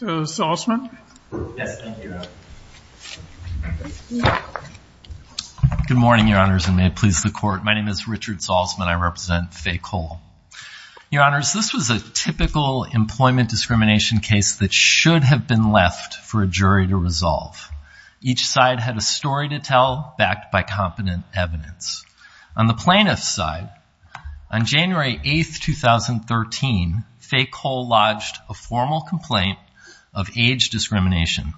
Good morning, your honors, and may it please the court. My name is Richard Salzman. I represent Fay Cole. Your honors, this was a typical employment discrimination case that should have been left for a jury to resolve. Each side had a story to tell, backed by competent evidence. On the plaintiff's side, on January 8, 2013, Fay Cole lodged a formal complaint of age discrimination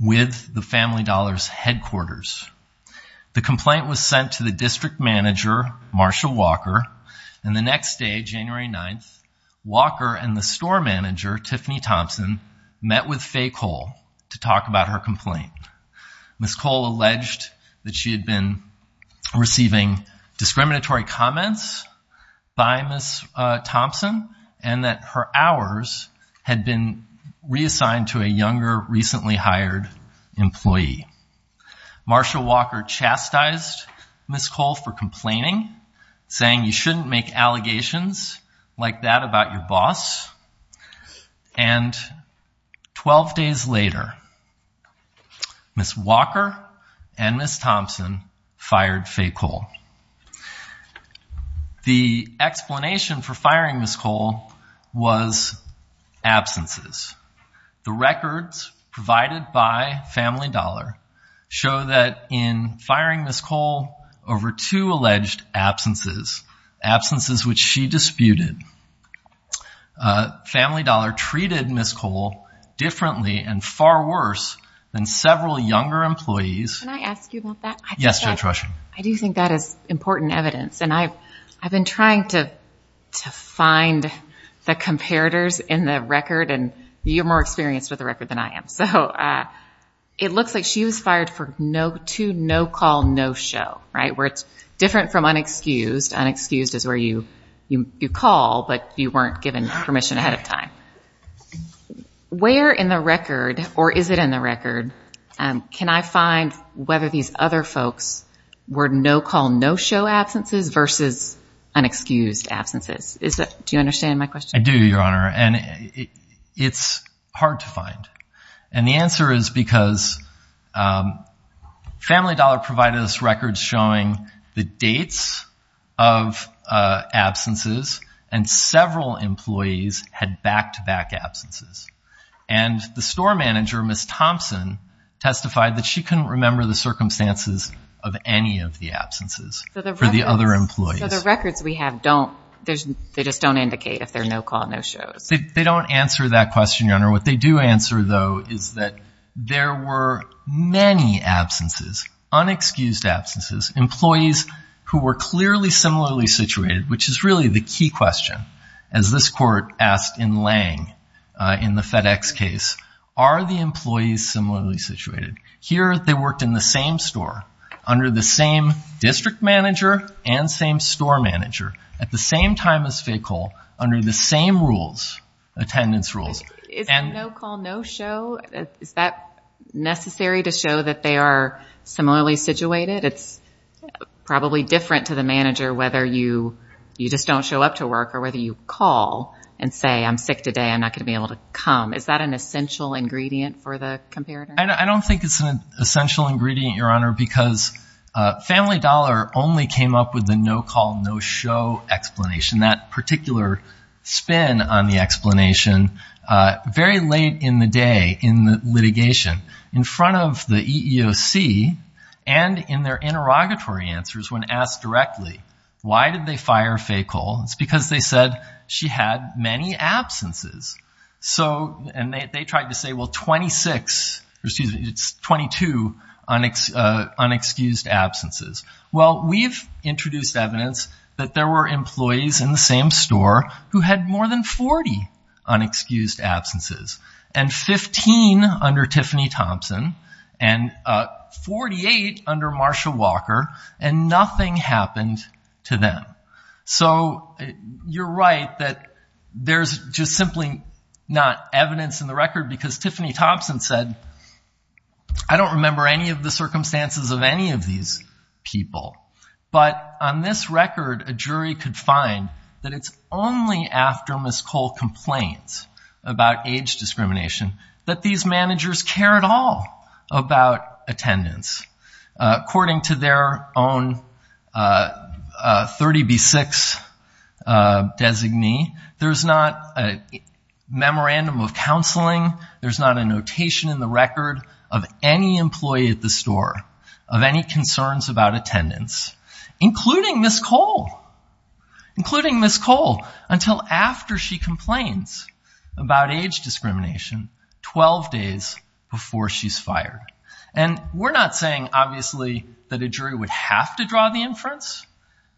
with the Family Dollar's headquarters. The complaint was sent to the district manager, Marshall Walker, and the next day, January 9, Walker and the store manager, Tiffany Thompson, met with Fay Cole to talk about her complaint. Ms. Cole alleged that she had been receiving discriminatory comments by Ms. Thompson and that her hours had been reassigned to a younger, recently hired employee. Marshall Walker chastised Ms. Cole for complaining, saying you shouldn't make allegations like that about your boss, and 12 days later, Ms. Walker and Ms. Thompson fired Fay Cole. The explanation for firing Ms. Cole was absences. The records provided by Family Dollar show that in firing Ms. Cole over two alleged absences, absences which she disputed, Family Dollar treated Ms. Cole differently and far worse than several younger employees. Can I ask you about that? Yes, Judge Rushing. I do think that is important evidence, and I've been trying to find the comparators in the record, and you're more experienced with the record than I am, so it looks like she was fired for two no-call, no-show, right, where it's different from unexcused. Unexcused is where you call, but you weren't given permission ahead of time. Where in the record, or is it in the record, can I find whether these other folks were no-call, no-show absences versus unexcused absences? Do you understand my question? I do, Your Honor, and it's hard to find, and the answer is because Family Dollar provided us records showing the dates of absences, and several employees had back-to-back absences, and the store manager, Ms. Thompson, testified that she couldn't remember the circumstances of any of the absences for the other employees. So the records we have don't, they just don't indicate if they're no-call, no-shows. They don't answer that question, Your Honor. What they do answer, though, is that there were many absences, unexcused absences, employees who were clearly similarly situated, which is really the key question, as this court asked in Lange in the FedEx case, are the employees similarly situated? Here, they worked in the same store, under the same district manager, and same store manager, at the same time as Fay-Cole, under the same rules, attendance rules, and no-call, no-show, is that necessary to show that they are similarly situated? It's probably different to the manager, whether you just don't show up to work, or whether you call and say, I'm sick today, I'm not going to be able to come. Is that an essential ingredient for the comparator? I don't think it's an essential ingredient, Your Honor, because Family Dollar only came up with the no-call, no-show explanation, that particular spin on the explanation, very late in the day in the litigation, in front of the EEOC, and in their interrogatory answers when asked directly, why did they fire Fay-Cole? It's because they said she had many absences. And they tried to say, well, 26, or excuse me, it's 22 unexcused absences. Well, we've introduced evidence that there were employees in the same store who had more than 40 unexcused absences, and 15 under Tiffany Thompson, and 48 under Marsha Walker, and nothing happened to them. So, you're right that there's just simply not evidence in the record, because Tiffany Thompson said, I don't remember any of the circumstances of any of these people. But on this record, a jury could find that it's only after Ms. Cole complains about age discrimination that these managers care at all about attendance, according to their own 30B6 designee. There's not a memorandum of counseling, there's not a notation in the record of any employee at the store of any concerns about attendance, including Ms. Cole. Including Ms. Cole, until after she complains about age discrimination, 12 days before she's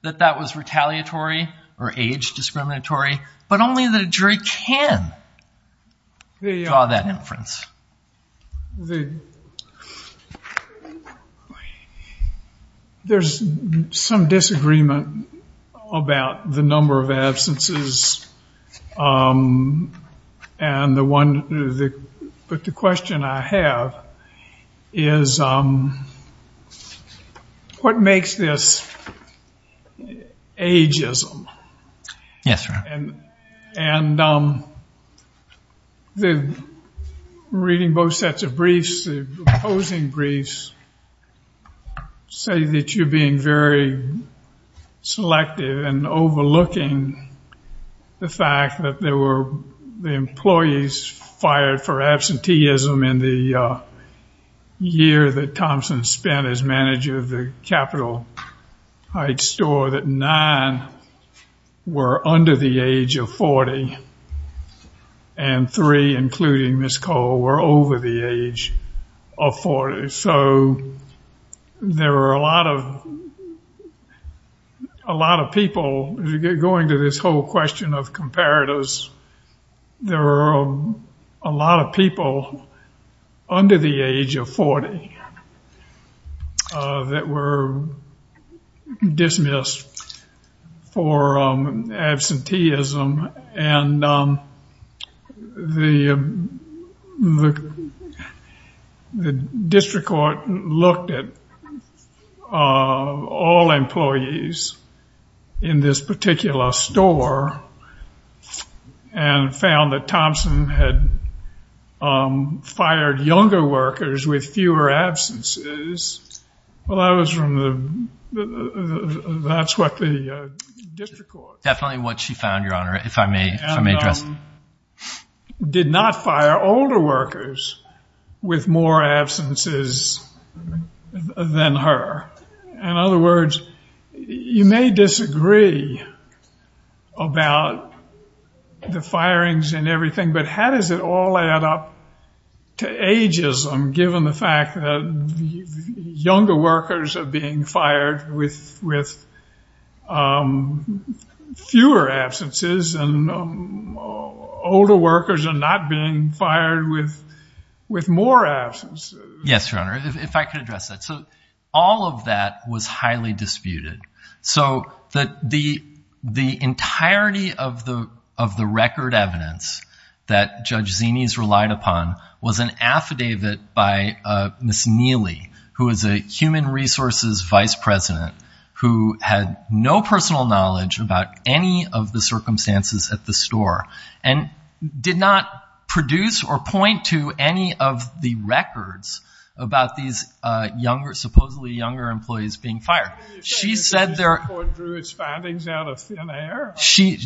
that that was retaliatory, or age discriminatory, but only the jury can draw that inference. There's some disagreement about the number of absences, but the question I have is, what makes this ageism? Yes, sir. And reading both sets of briefs, the opposing briefs, say that you're being very selective and overlooking the fact that there were the employees fired for absenteeism in the year that Thompson spent as manager of the Capitol Heights store, that nine were under the age of 40, and three, including Ms. Cole, were over the age of 40. So there were a lot of people, going to this whole question of comparators, there were a lot of people under the age of 40 that were dismissed for absenteeism, and the district court looked at all employees in this particular store, and found that Thompson's age was over 40, and that Thompson had fired younger workers with fewer absences. Well, that was from the, that's what the district court... Definitely what she found, Your Honor, if I may address that. And did not fire older workers with more absences than her. In other words, you may disagree about the firings and everything, but how did Thompson get fired, and how does it all add up to ageism, given the fact that younger workers are being fired with fewer absences, and older workers are not being fired with more absences? Yes, Your Honor, if I could address that. So all of that was highly disputed. So the entirety of the record evidence that Judge Zini's relied upon was an affidavit by Ms. Neely, who is a human resources vice president, who had no personal knowledge about any of the circumstances at the store, and did not produce or point to any of the records about these supposedly younger employees being fired. How do you say the district court drew its findings out of thin air? She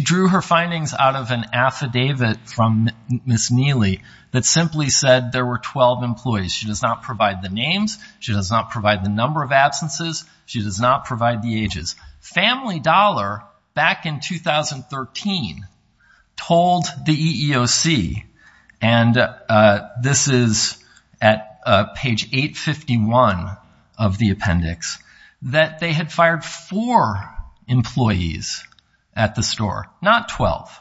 drew her findings out of an affidavit from Ms. Neely that simply said there were 12 employees. She does not provide the names, she does not provide the number of absences, she does not provide the ages. Family Dollar, back in 2013, told the EEOC, and this is at the time of this recording, at page 851 of the appendix, that they had fired four employees at the store, not 12.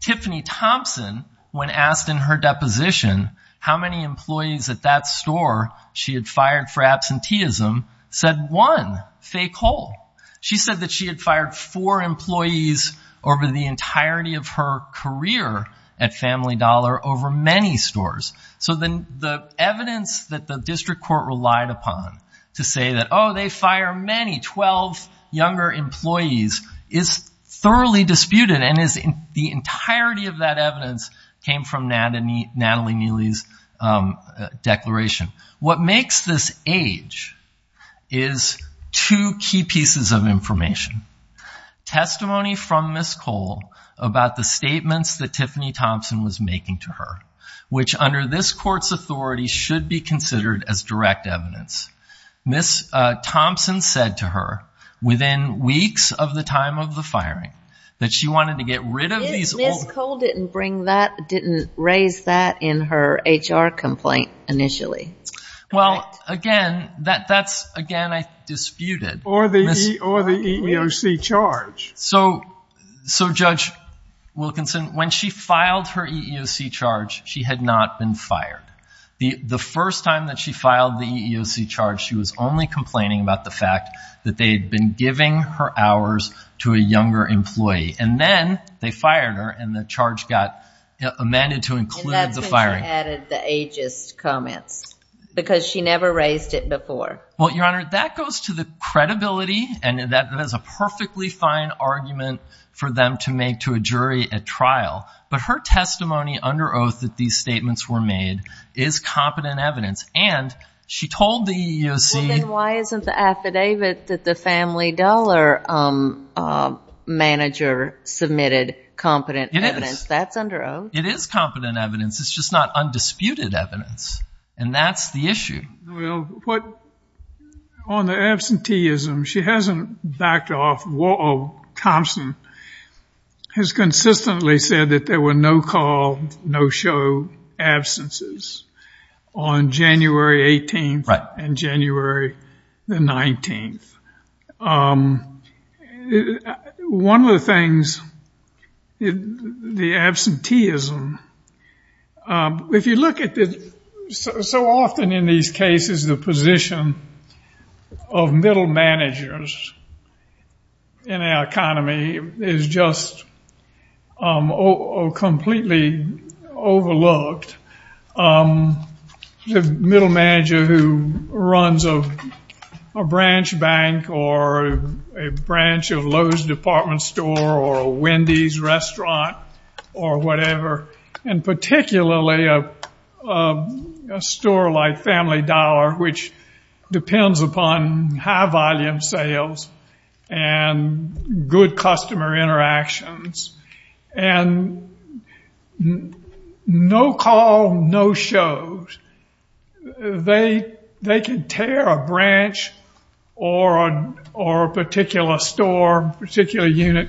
Tiffany Thompson, when asked in her deposition how many employees at that store she had fired for absenteeism, said one, fake whole. She said that she had fired four employees over the entirety of her career at Family Dollar over many stores, so the evidence that the district court relied upon to say that, oh, they fire many, 12 younger employees, is thoroughly disputed, and the entirety of that evidence came from Natalie Neely's declaration. What makes this age is two key pieces of information. Testimony from Ms. Cole about the statements that Tiffany Thompson was making to her, which under this court's authority should be considered as direct evidence. Ms. Thompson said to her, within weeks of the time of the firing, that she wanted to get rid of these Ms. Cole didn't raise that in her HR complaint initially. Well, again, that's, again, disputed. Or the EEOC charge. So Judge Wilkinson, when she filed her EEOC charge, she had not been fired. The first time that she filed the EEOC charge, she was only complaining about the fact that they had been giving her hours to a younger employee, and then they fired her and the charge got amended to include the firing. She added the ageist comments, because she never raised it before. Well, Your Honor, that goes to the credibility, and that is a perfectly fine argument for them to make to a jury at trial. But her testimony under oath that these statements were made is competent evidence, and she told the EEOC Well, then why isn't the affidavit that the Family Dollar manager submitted competent evidence? That's under oath. It is competent evidence. It's just not undisputed evidence, and that's the issue. Well, on the absenteeism, she hasn't backed off. Thompson has consistently said that there were no-call, no-show absences on January 18th and January 19th. One of the things, the absenteeism, if you look at it, so often in these cases, the position of middle managers in our economy is just completely overlooked. The middle manager who runs a branch bank or a branch of Lowe's department store or a Wendy's restaurant or whatever, and particularly a store like Family Dollar, which depends upon high-volume sales and good customer interactions, and no-call, no-shows, they can tear a branch or a particular store, a particular unit,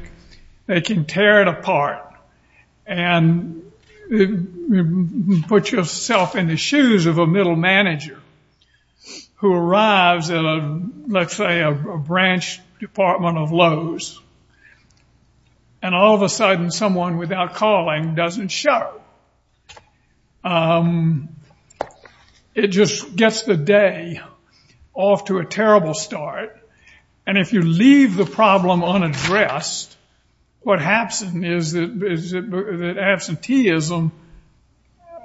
they can tear it apart and put yourself in the shoes of a middle manager who arrives at, let's say, a branch department of Lowe's. And all of a sudden, someone without calling doesn't show. It just gets the day off to a terrible start. And if you leave the problem unaddressed, what happens is that absenteeism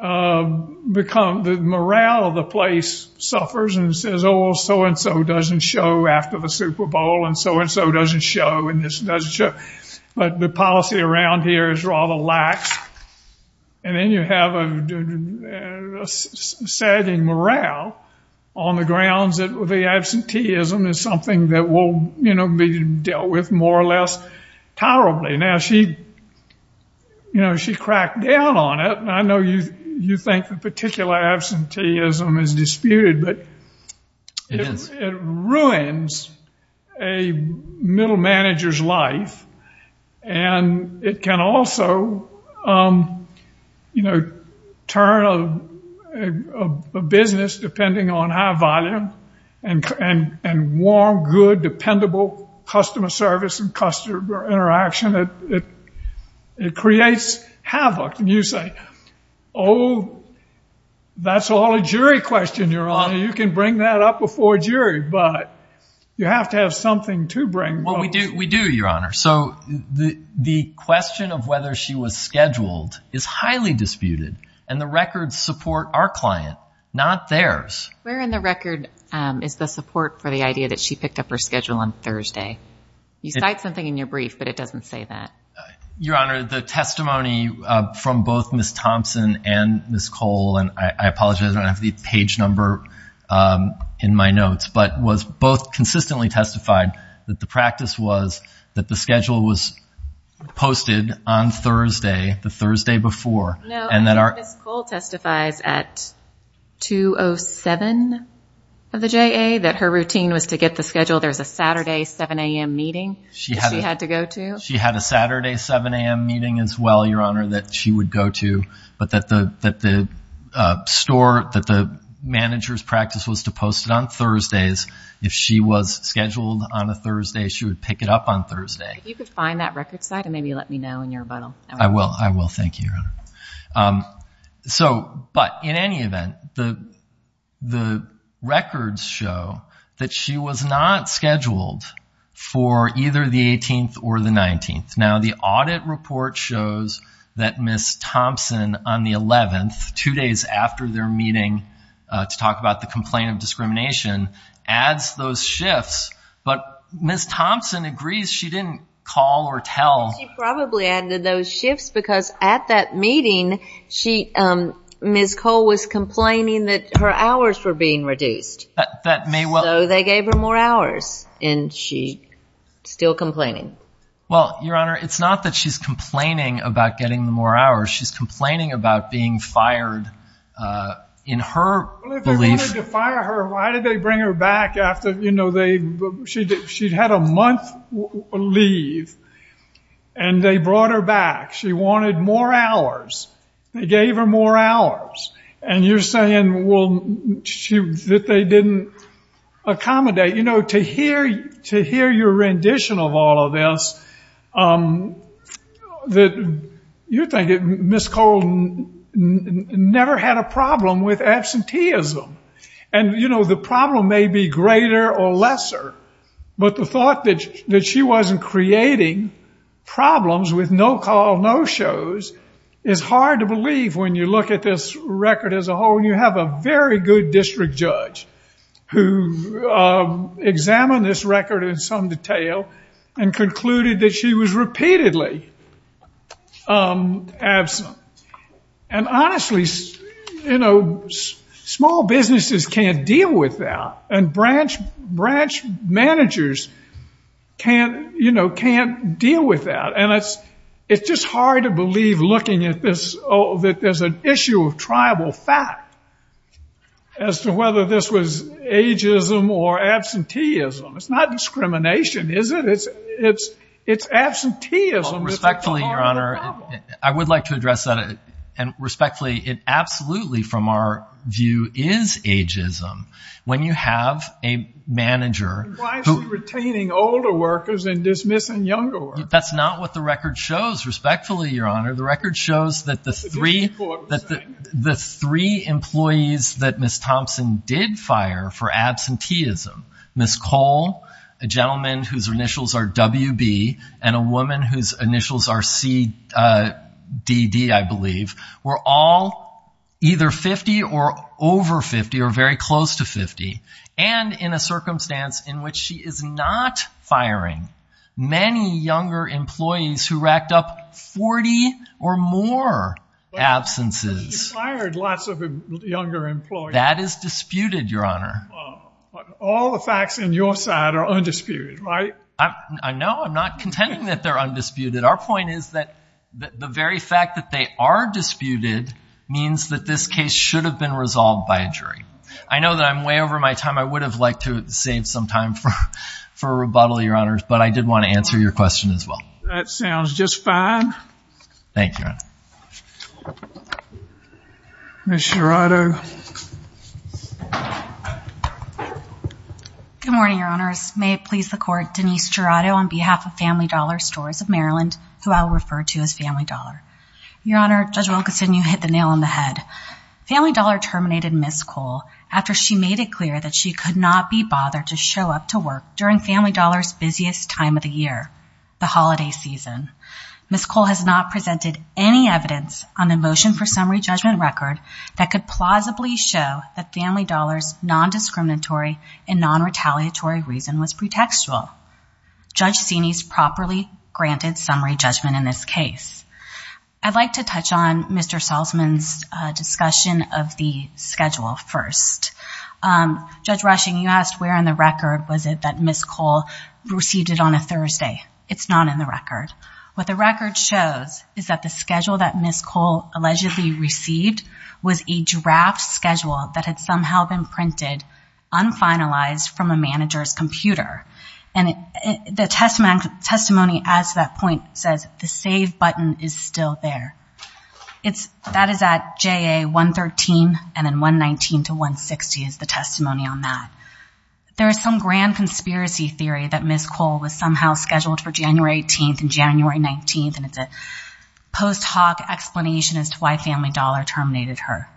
becomes the morale of the place suffers and says, oh, so-and-so doesn't show after the Super Bowl and so-and-so doesn't show and this doesn't show. But the policy around here is rather lax. And then you have a sagging morale on the grounds that the absenteeism is something that will be dealt with more or less tolerably. Now, she cracked down on it. And I know you think that particular absenteeism is disputed, but it ruins a middle manager's life. And it can also turn a business depending on high-volume and warm, good, dependable customer service and customer interaction. It creates havoc. And you say, oh, that's all a jury question, Your Honor. You can bring that up before a jury. But you have to have something to bring. So the question of whether she was scheduled is highly disputed. And the records support our client, not theirs. Where in the record is the support for the idea that she picked up her schedule on Thursday? You cite something in your brief, but it doesn't say that. Your Honor, the testimony from both Ms. Thompson and Ms. Cole, and I apologize, I don't have the page number in my notes, but both consistently testified that the practice was that the schedule was posted on Thursday, the Thursday before. No, Ms. Cole testifies at 2.07 of the JA that her routine was to get the schedule. There was a Saturday 7 a.m. meeting she had to go to. She had a Saturday 7 a.m. meeting as well, Your Honor, that she would go to. But that the store, that the manager's practice was to post it on Thursdays. If she was scheduled on a Thursday, she would pick it up on Thursday. If you could find that record site and maybe let me know in your rebuttal. I will. I will. Thank you, Your Honor. But in any event, the records show that she was not scheduled for either the 18th or the 19th. Now, the audit report shows that Ms. Thompson on the 11th, two days after their meeting to talk about the complaint of discrimination, adds those shifts. But Ms. Thompson agrees she didn't call or tell. She probably added those shifts because at that meeting, Ms. Cole was complaining that her hours were being reduced. So they gave her more hours and she's still complaining. Well, Your Honor, it's not that she's complaining about getting more hours. She's complaining about being fired in her belief. Well, if they wanted to fire her, why did they bring her back after, you know, she'd had a month leave and they brought her back. She wanted more hours. They gave her more hours. And you're saying, well, that they didn't accommodate. You know, to hear your rendition of all of this, you're thinking Ms. Cole never had a problem with absenteeism. And, you know, the problem may be greater or lesser, but the thought that she wasn't creating problems with no-call, no-shows, is hard to believe when you look at this record as a whole. And you have a very good district judge who examined this record in some detail and concluded that she was repeatedly absent. And honestly, you know, small businesses can't deal with that. And branch managers can't, you know, can't deal with that. And it's just hard to believe, looking at this, that there's an issue of tribal fact as to whether this was ageism or absenteeism. It's not discrimination, is it? It's absenteeism that's at the heart of the problem. Well, respectfully, Your Honor, I would like to address that. And respectfully, it absolutely, from our view, is ageism. When you have a manager who— Why is he retaining older workers and dismissing younger workers? That's not what the record shows, respectfully, Your Honor. The record shows that the three employees that Ms. Thompson did fire for absenteeism, Ms. Cole, a gentleman whose initials are WB, and a woman whose initials are CDD, I believe, were all either 50 or over 50 or very close to 50. And in a circumstance in which she is not firing many younger employees who racked up 40 or more absences. But she fired lots of younger employees. That is disputed, Your Honor. But all the facts on your side are undisputed, right? No, I'm not contending that they're undisputed. Our point is that the very fact that they are disputed means that this case should have been resolved by a jury. I know that I'm way over my time. I would have liked to have saved some time for a rebuttal, Your Honor. But I did want to answer your question as well. That sounds just fine. Thank you, Your Honor. Ms. Jurado. Good morning, Your Honors. May it please the Court. Denise Jurado on behalf of Family Dollar Stores of Maryland, who I will refer to as Family Dollar. Your Honor, Judge Wilkinson, you hit the nail on the head. Family Dollar terminated Ms. Kohl after she made it clear that she could not be bothered to show up to work during Family Dollar's busiest time of the year, the holiday season. Ms. Kohl has not presented any evidence on the motion for summary judgment record that could plausibly show that Family Dollar's non-discriminatory and non-retaliatory reason was pretextual. Judge Cini's properly granted summary judgment in this case. I'd like to touch on Mr. Salzman's discussion of the schedule first. Judge Rushing, you asked where in the record was it that Ms. Kohl received it on a Thursday. It's not in the record. What the record shows is that the schedule that Ms. Kohl allegedly received was a draft schedule that had somehow been printed, unfinalized from a manager's computer. The testimony as to that point says, the save button is still there. That is at JA 113 and then 119 to 160 is the testimony on that. There is some grand conspiracy theory that Ms. Kohl was somehow scheduled for January 18th and January 19th, and it's a post hoc explanation as to why Family Dollar terminated her.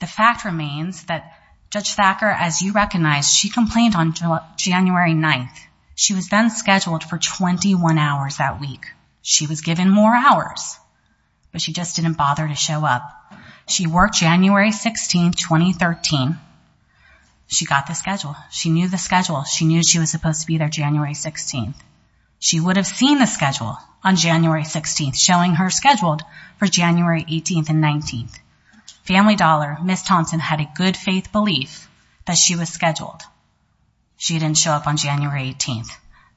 The fact remains that Judge Thacker, as you recognize, she complained on January 9th. She was then scheduled for 21 hours that week. She was given more hours, but she just didn't bother to show up. She worked January 16th, 2013. She got the schedule. She knew the schedule. She knew she was supposed to be there January 16th. She would have seen the schedule on January 16th, showing her scheduled for January 18th and 19th. Family Dollar, Ms. Thompson, had a good faith belief that she was scheduled. She didn't show up on January 18th.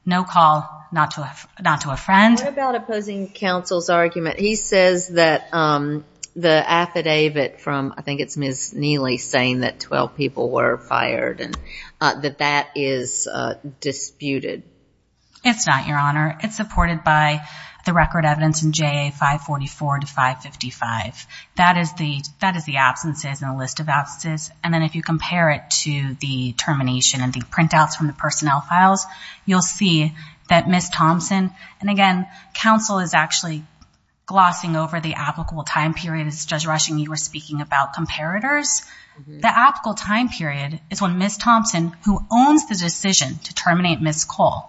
No call, not to a friend. What about opposing counsel's argument? He says that the affidavit from, I think it's Ms. Neely, saying that 12 people were fired and that that is disputed. It's not, Your Honor. It's supported by the record evidence in JA 544 to 555. That is the absences and a list of absences. And then if you compare it to the termination and the printouts from the personnel files, you'll see that Ms. Thompson, and again, counsel is actually glossing over the applicable time period. It's Judge Rushing, you were speaking about comparators. The applicable time period is when Ms. Thompson, who owns the decision to terminate Ms. Cole,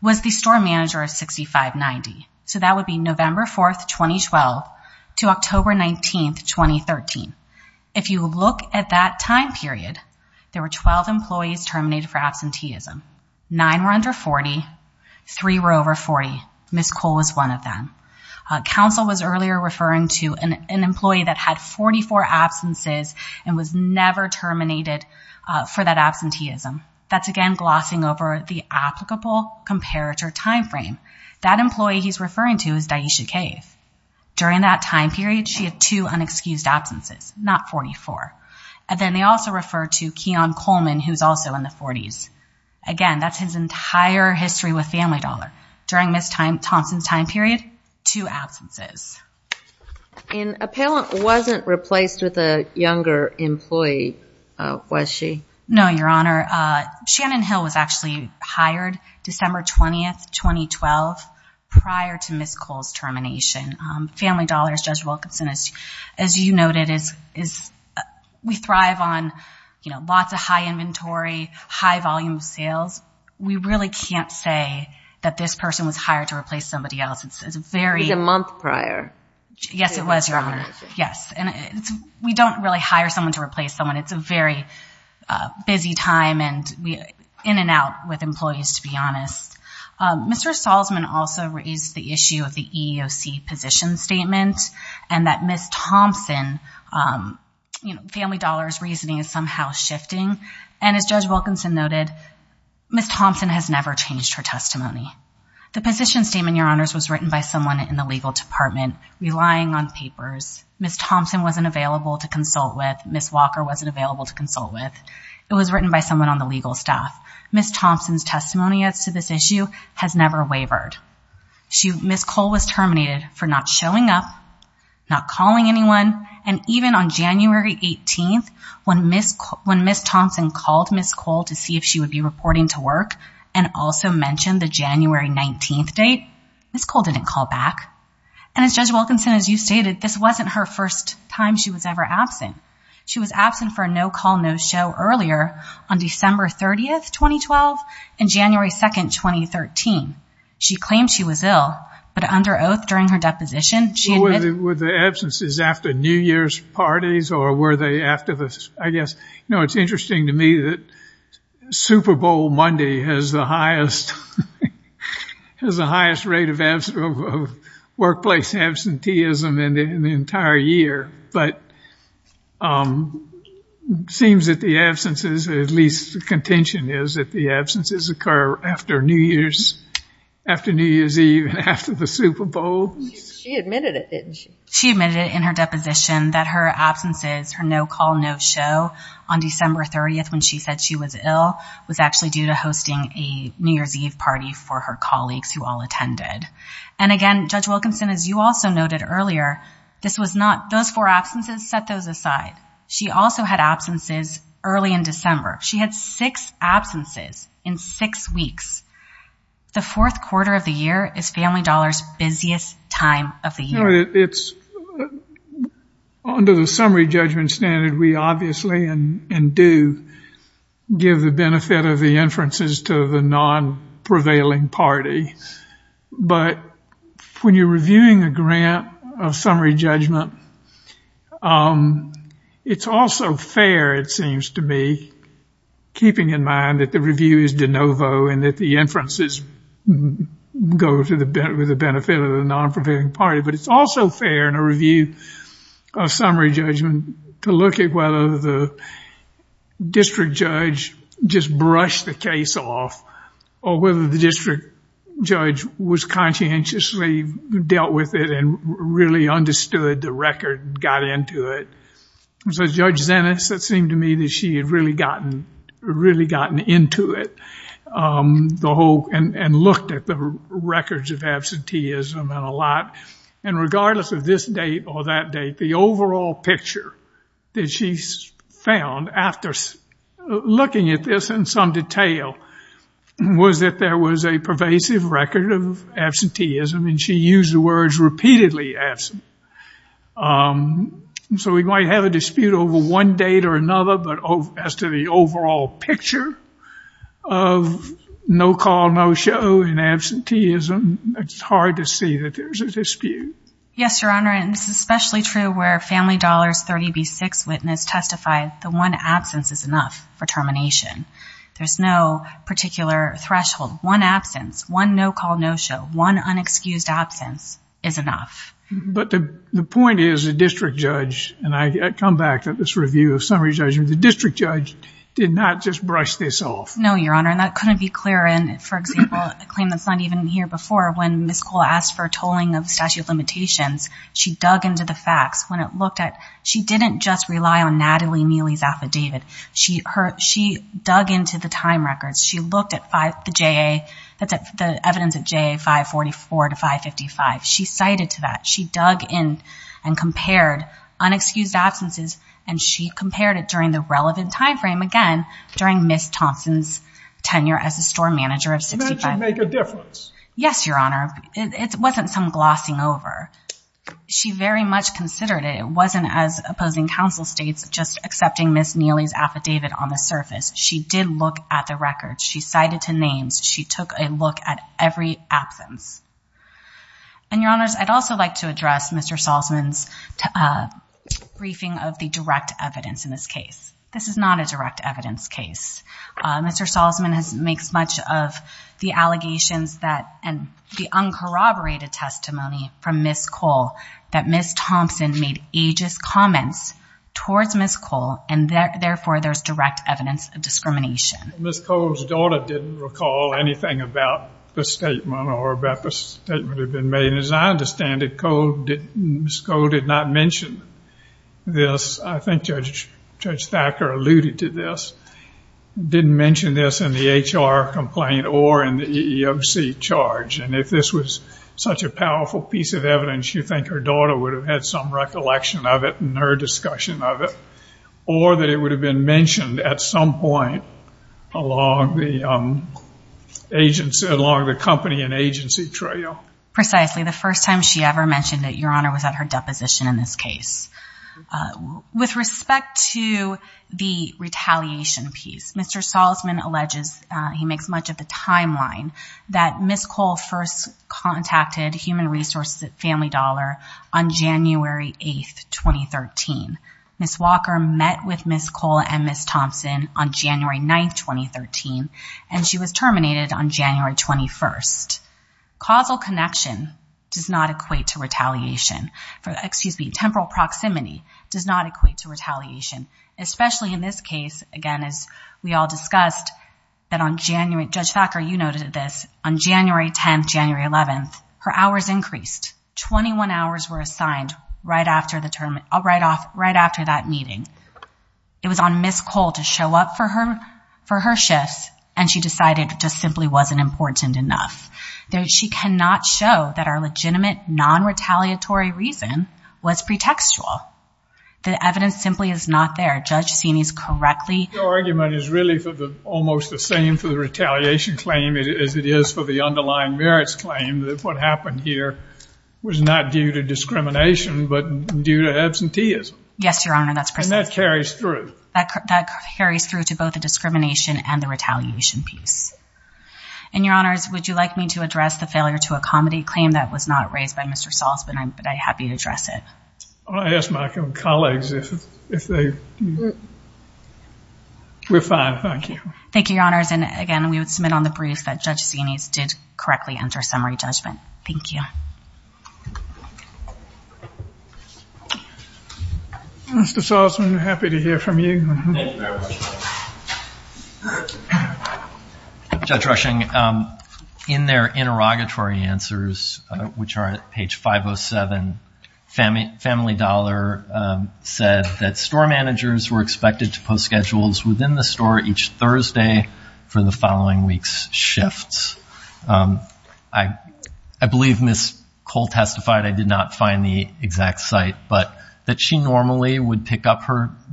was the store manager of 6590. So that would be November 4th, 2012 to October 19th, 2013. If you look at that time period, there were 12 employees terminated for absenteeism. Nine were under 40. Three were over 40. Ms. Cole was one of them. Counsel was earlier referring to an employee that had 44 absences and was never terminated for that absenteeism. That's, again, glossing over the applicable comparator time frame. That employee he's referring to is Daisha Cave. During that time period, she had two unexcused absences, not 44. And then they also refer to Keon Coleman, who's also in the 40s. Again, that's his entire history with Family Dollar. During Ms. Thompson's time period, two absences. And appellant wasn't replaced with a younger employee, was she? No, Your Honor. Shannon Hill was actually hired December 20th, 2012, prior to Ms. Cole's termination. Family Dollar's Judge Wilkinson, as you noted, we thrive on lots of high inventory, high volume of sales. We really can't say that this person was hired to replace somebody else. It was a month prior. Yes, it was, Your Honor. We don't really hire someone to replace someone. It's a very busy time in and out with employees, to be honest. Mr. Salzman also raised the issue of the EEOC position statement and that Ms. Thompson, Family Dollar's reasoning is somehow shifting. And as Judge Wilkinson noted, Ms. Thompson has never changed her testimony. The position statement, Your Honors, was written by someone in the legal department, relying on papers. Ms. Thompson wasn't available to consult with. Ms. Walker wasn't available to consult with. It was written by someone on the legal staff. Ms. Thompson's testimony as to this issue has never wavered. Ms. Cole was terminated for not showing up, not calling anyone, and even on January 18th, when Ms. Thompson called Ms. Cole to see if she would be reporting to work and also mentioned the January 19th date, Ms. Cole didn't call back. And as Judge Wilkinson, as you stated, this wasn't her first time she was ever absent. She was absent for a No Call No Show earlier on December 30th, 2012, and January 2nd, 2013. She claimed she was ill, but under oath during her deposition, she admitted Well, were the absences after New Year's parties or were they after the, I guess, no, it's interesting to me that Super Bowl Monday has the highest rate of workplace absenteeism in the entire year, but it seems that the absences, at least the contention is that the absences occur after New Year's, after New Year's Eve and after the Super Bowl. She admitted it, didn't she? She admitted it in her deposition that her absences, her No Call No Show, on December 30th when she said she was ill was actually due to hosting a New Year's Eve party for her colleagues who all attended. And again, Judge Wilkinson, as you also noted earlier, this was not, those four absences, set those aside. She also had absences early in December. She had six absences in six weeks. The fourth quarter of the year is Family Dollar's busiest time of the year. It's, under the summary judgment standard, we obviously and do give the benefit of the inferences to the non-prevailing party. But when you're reviewing a grant of summary judgment, it's also fair, it seems to me, keeping in mind that the review is de novo and that the inferences go to the benefit of the non-prevailing party. But it's also fair in a review of summary judgment to look at whether the district judge just brushed the case off or whether the district judge was conscientiously dealt with it and really understood the record, got into it. So Judge Zenes, it seemed to me that she had really gotten into it, the whole, and looked at the records of absenteeism and a lot. And regardless of this date or that date, the overall picture that she found after looking at this in some detail was that there was a pervasive record of absenteeism, and she used the words repeatedly absent. So we might have a dispute over one date or another, but as to the overall picture of no call, no show, and absenteeism, it's hard to see that there's a dispute. Yes, Your Honor, and this is especially true where Family Dollars 30B6 witness testified the one absence is enough for termination. There's no particular threshold. One absence, one no call, no show, one unexcused absence is enough. But the point is the district judge, and I come back to this review of summary judgment, the district judge did not just brush this off. No, Your Honor, and that couldn't be clearer. And, for example, a claim that's not even here before, when Ms. Cole asked for tolling of statute of limitations, she dug into the facts. When it looked at, she didn't just rely on Natalie Neely's affidavit. She dug into the time records. She looked at the JA, the evidence at JA 544 to 555. She cited to that. She dug in and compared unexcused absences, and she compared it during the relevant time frame, again, during Ms. Thompson's tenure as a store manager of 65. It meant it would make a difference. Yes, Your Honor. It wasn't some glossing over. She very much considered it. It wasn't as opposing counsel states just accepting Ms. Neely's affidavit on the surface. She did look at the records. She cited to names. She took a look at every absence. And, Your Honors, I'd also like to address Mr. Salzman's briefing of the direct evidence in this case. This is not a direct evidence case. Mr. Salzman makes much of the allegations and the uncorroborated testimony from Ms. Cole that Ms. Thompson made aegis comments towards Ms. Cole, and, therefore, there's direct evidence of discrimination. Ms. Cole's daughter didn't recall anything about the statement or about the statement that had been made. As I understand it, Ms. Cole did not mention this. I think Judge Thacker alluded to this. Didn't mention this in the HR complaint or in the EEOC charge. And if this was such a powerful piece of evidence, you'd think her daughter would have had some recollection of it and heard discussion of it, or that it would have been mentioned at some point along the agency, along the company and agency trail. Precisely. The first time she ever mentioned it, Your Honor, was at her deposition in this case. With respect to the retaliation piece, Mr. Salzman alleges, he makes much of the timeline, that Ms. Cole first contacted Human Resources at Family Dollar on January 8th, 2013. Ms. Walker met with Ms. Cole and Ms. Thompson on January 9th, 2013, and she was terminated on January 21st. Causal connection does not equate to retaliation. Temporal proximity does not equate to retaliation, especially in this case, again, as we all discussed, that on January, Judge Thacker, you noted this, on January 10th, January 11th, her hours increased. Twenty-one hours were assigned right after that meeting. It was on Ms. Cole to show up for her shifts, and she decided it just simply wasn't important enough. She cannot show that our legitimate, non-retaliatory reason was pretextual. The evidence simply is not there. Your argument is really almost the same for the retaliation claim as it is for the underlying merits claim, that what happened here was not due to discrimination but due to absenteeism. Yes, Your Honor, that's precise. And that carries through. That carries through to both the discrimination and the retaliation piece. And, Your Honors, would you like me to address the failure to accommodate claim that was not raised by Mr. Salzman? I'd be happy to address it. I'll ask my colleagues if they... We're fine, thank you. Thank you, Your Honors. And, again, we would submit on the brief that Judge Sienese did correctly enter summary judgment. Thank you. Mr. Salzman, happy to hear from you. Thank you very much. Judge Rushing, in their interrogatory answers, which are at page 507, Family Dollar said that store managers were expected to post schedules within the store each Thursday for the following week's shifts. I believe Ms. Cole testified, I did not find the exact site, but that she normally would pick up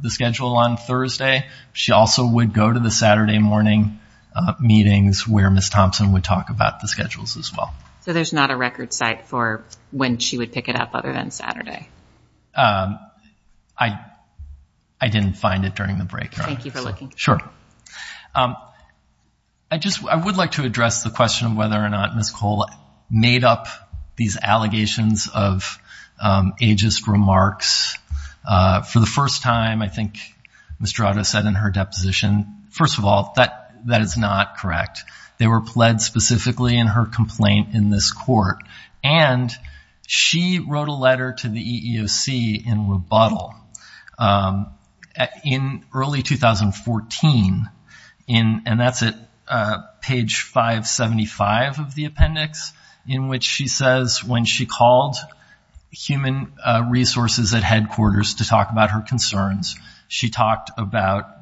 the schedule on Thursday. She also would go to the Saturday morning meetings where Ms. Thompson would talk about the schedules as well. So there's not a record site for when she would pick it up other than Saturday? I didn't find it during the break, Your Honor. Thank you for looking. Sure. I would like to address the question of whether or not Ms. Cole made up these allegations of ageist remarks. For the first time, I think Ms. Durato said in her deposition, first of all, that is not correct. They were pled specifically in her complaint in this court. And she wrote a letter to the EEOC in rebuttal. In early 2014, and that's at page 575 of the appendix, in which she says when she called human resources at headquarters to talk about her concerns, she called about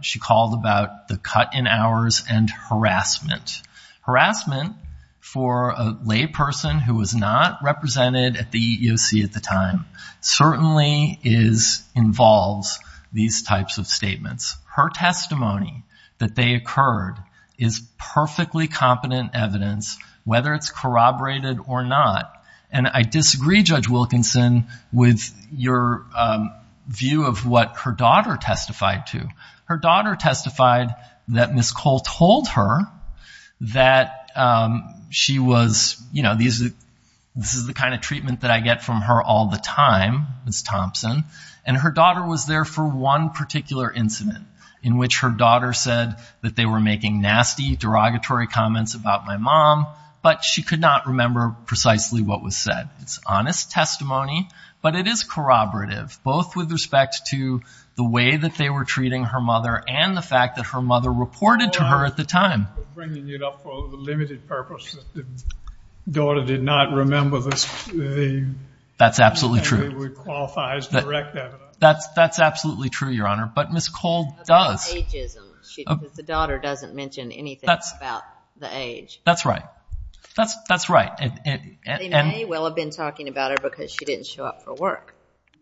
the cut in hours and harassment. Harassment for a lay person who was not represented at the EEOC at the time certainly involves these types of statements. Her testimony that they occurred is perfectly competent evidence, whether it's corroborated or not. And I disagree, Judge Wilkinson, with your view of what her daughter testified to. Her daughter testified that Ms. Cole told her that she was, you know, this is the kind of treatment that I get from her all the time, Ms. Thompson. And her daughter was there for one particular incident in which her daughter said that they were making nasty derogatory comments about my mom, but she could not remember precisely what was said. It's honest testimony, but it is corroborative, both with respect to the way that they were treating her mother and the fact that her mother reported to her at the time. They were bringing it up for a limited purpose. The daughter did not remember this. That's absolutely true. It would qualify as direct evidence. That's absolutely true, Your Honor, but Ms. Cole does. About ageism. The daughter doesn't mention anything about the age. That's right. That's right. They may well have been talking about her because she didn't show up for work.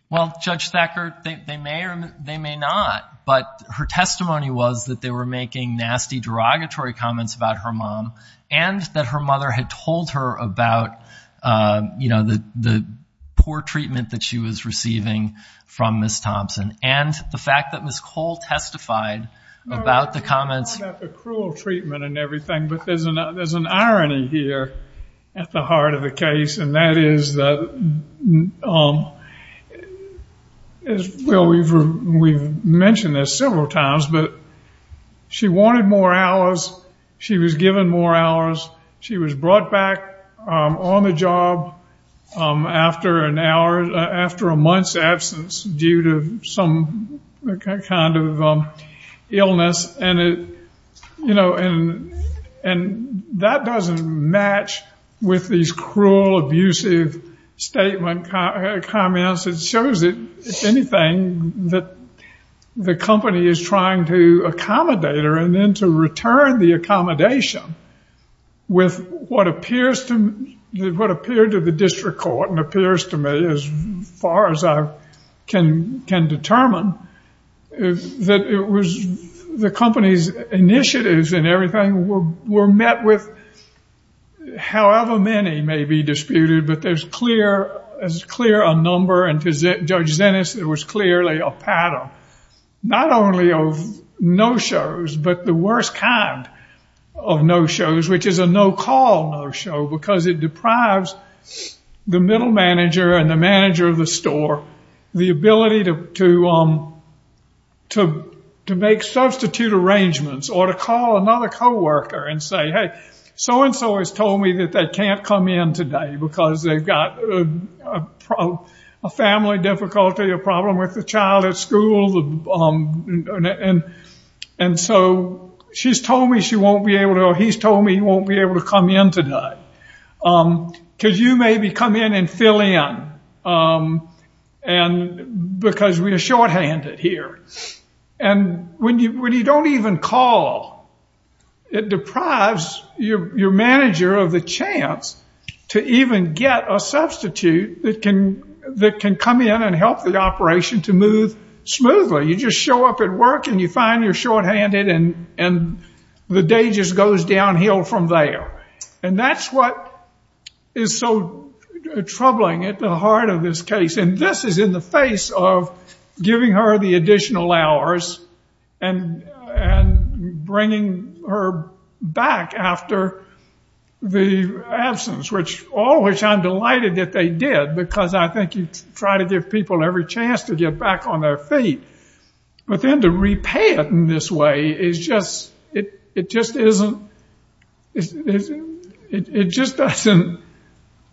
Well, Judge Thacker, they may or they may not, but her testimony was that they were making nasty derogatory comments about her mom and that her mother had told her about, you know, the poor treatment that she was receiving from Ms. Thompson and the fact that Ms. Cole testified about the comments. It's not about the cruel treatment and everything, but there's an irony here at the heart of the case, and that is that, well, we've mentioned this several times, but she wanted more hours. She was given more hours. She was brought back on the job after an hour, after a month's absence due to some kind of illness, and that doesn't match with these cruel, abusive statement comments. It shows that anything that the company is trying to accommodate her and then to return the accommodation with what appeared to the district court and appears to me as far as I can determine, that it was the company's initiatives and everything were met with, however many may be disputed, but there's clear a number, and to Judge Zenes, it was clearly a pattern, not only of no-shows, but the worst kind of no-shows, which is a no-call no-show, because it deprives the middle manager and the manager of the store the ability to make substitute arrangements or to call another co-worker and say, hey, so-and-so has told me that they can't come in today because they've got a family difficulty, a problem with the child at school, and so she's told me she won't be able to, or he's told me he won't be able to come in today. Because you maybe come in and fill in because we are shorthanded here. And when you don't even call, it deprives your manager of the chance to even get a substitute that can come in and help the operation to move smoothly. You just show up at work and you find you're shorthanded and the day just goes downhill from there. And that's what is so troubling at the heart of this case. And this is in the face of giving her the additional hours and bringing her back after the absence, all which I'm delighted that they did, because I think you try to give people every chance to get back on their feet. But then to repay it in this way is just, it just isn't, it just doesn't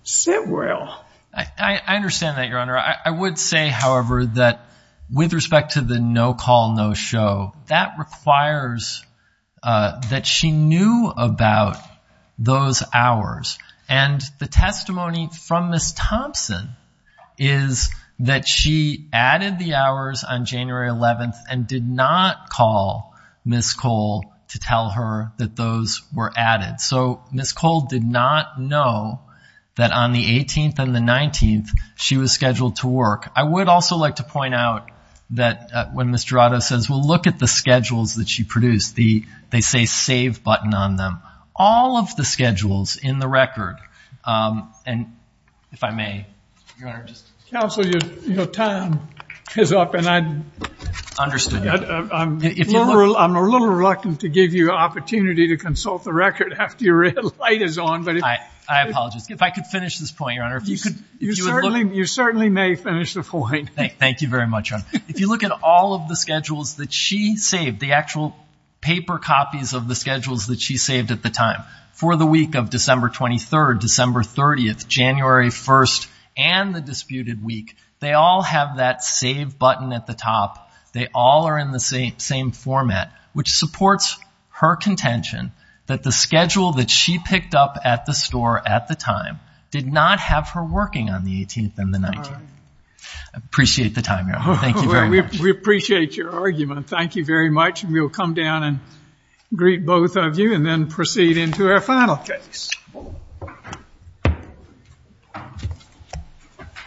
sit well. I understand that, Your Honor. I would say, however, that with respect to the no call, no show, that requires that she knew about those hours. And the testimony from Ms. Thompson is that she added the hours on January 11th and did not call Ms. Cole to tell her that those were added. So Ms. Cole did not know that on the 18th and the 19th she was scheduled to work. I would also like to point out that when Ms. Jurado says, well, look at the schedules that she produced, they say save button on them. All of the schedules in the record, and if I may, Your Honor. Counsel, your time is up, and I'm a little reluctant to give you an opportunity to consult the record after your light is on. I apologize. If I could finish this point, Your Honor. You certainly may finish the point. Thank you very much, Your Honor. If you look at all of the schedules that she saved, the actual paper copies of the schedules that she saved at the time, for the week of December 23rd, December 30th, January 1st, and the disputed week, they all have that save button at the top. They all are in the same format, which supports her contention that the schedule that she picked up at the store at the time did not have her working on the 18th and the 19th. I appreciate the time, Your Honor. Thank you very much. We appreciate your argument. Thank you very much. We will come down and greet both of you and then proceed into our final case.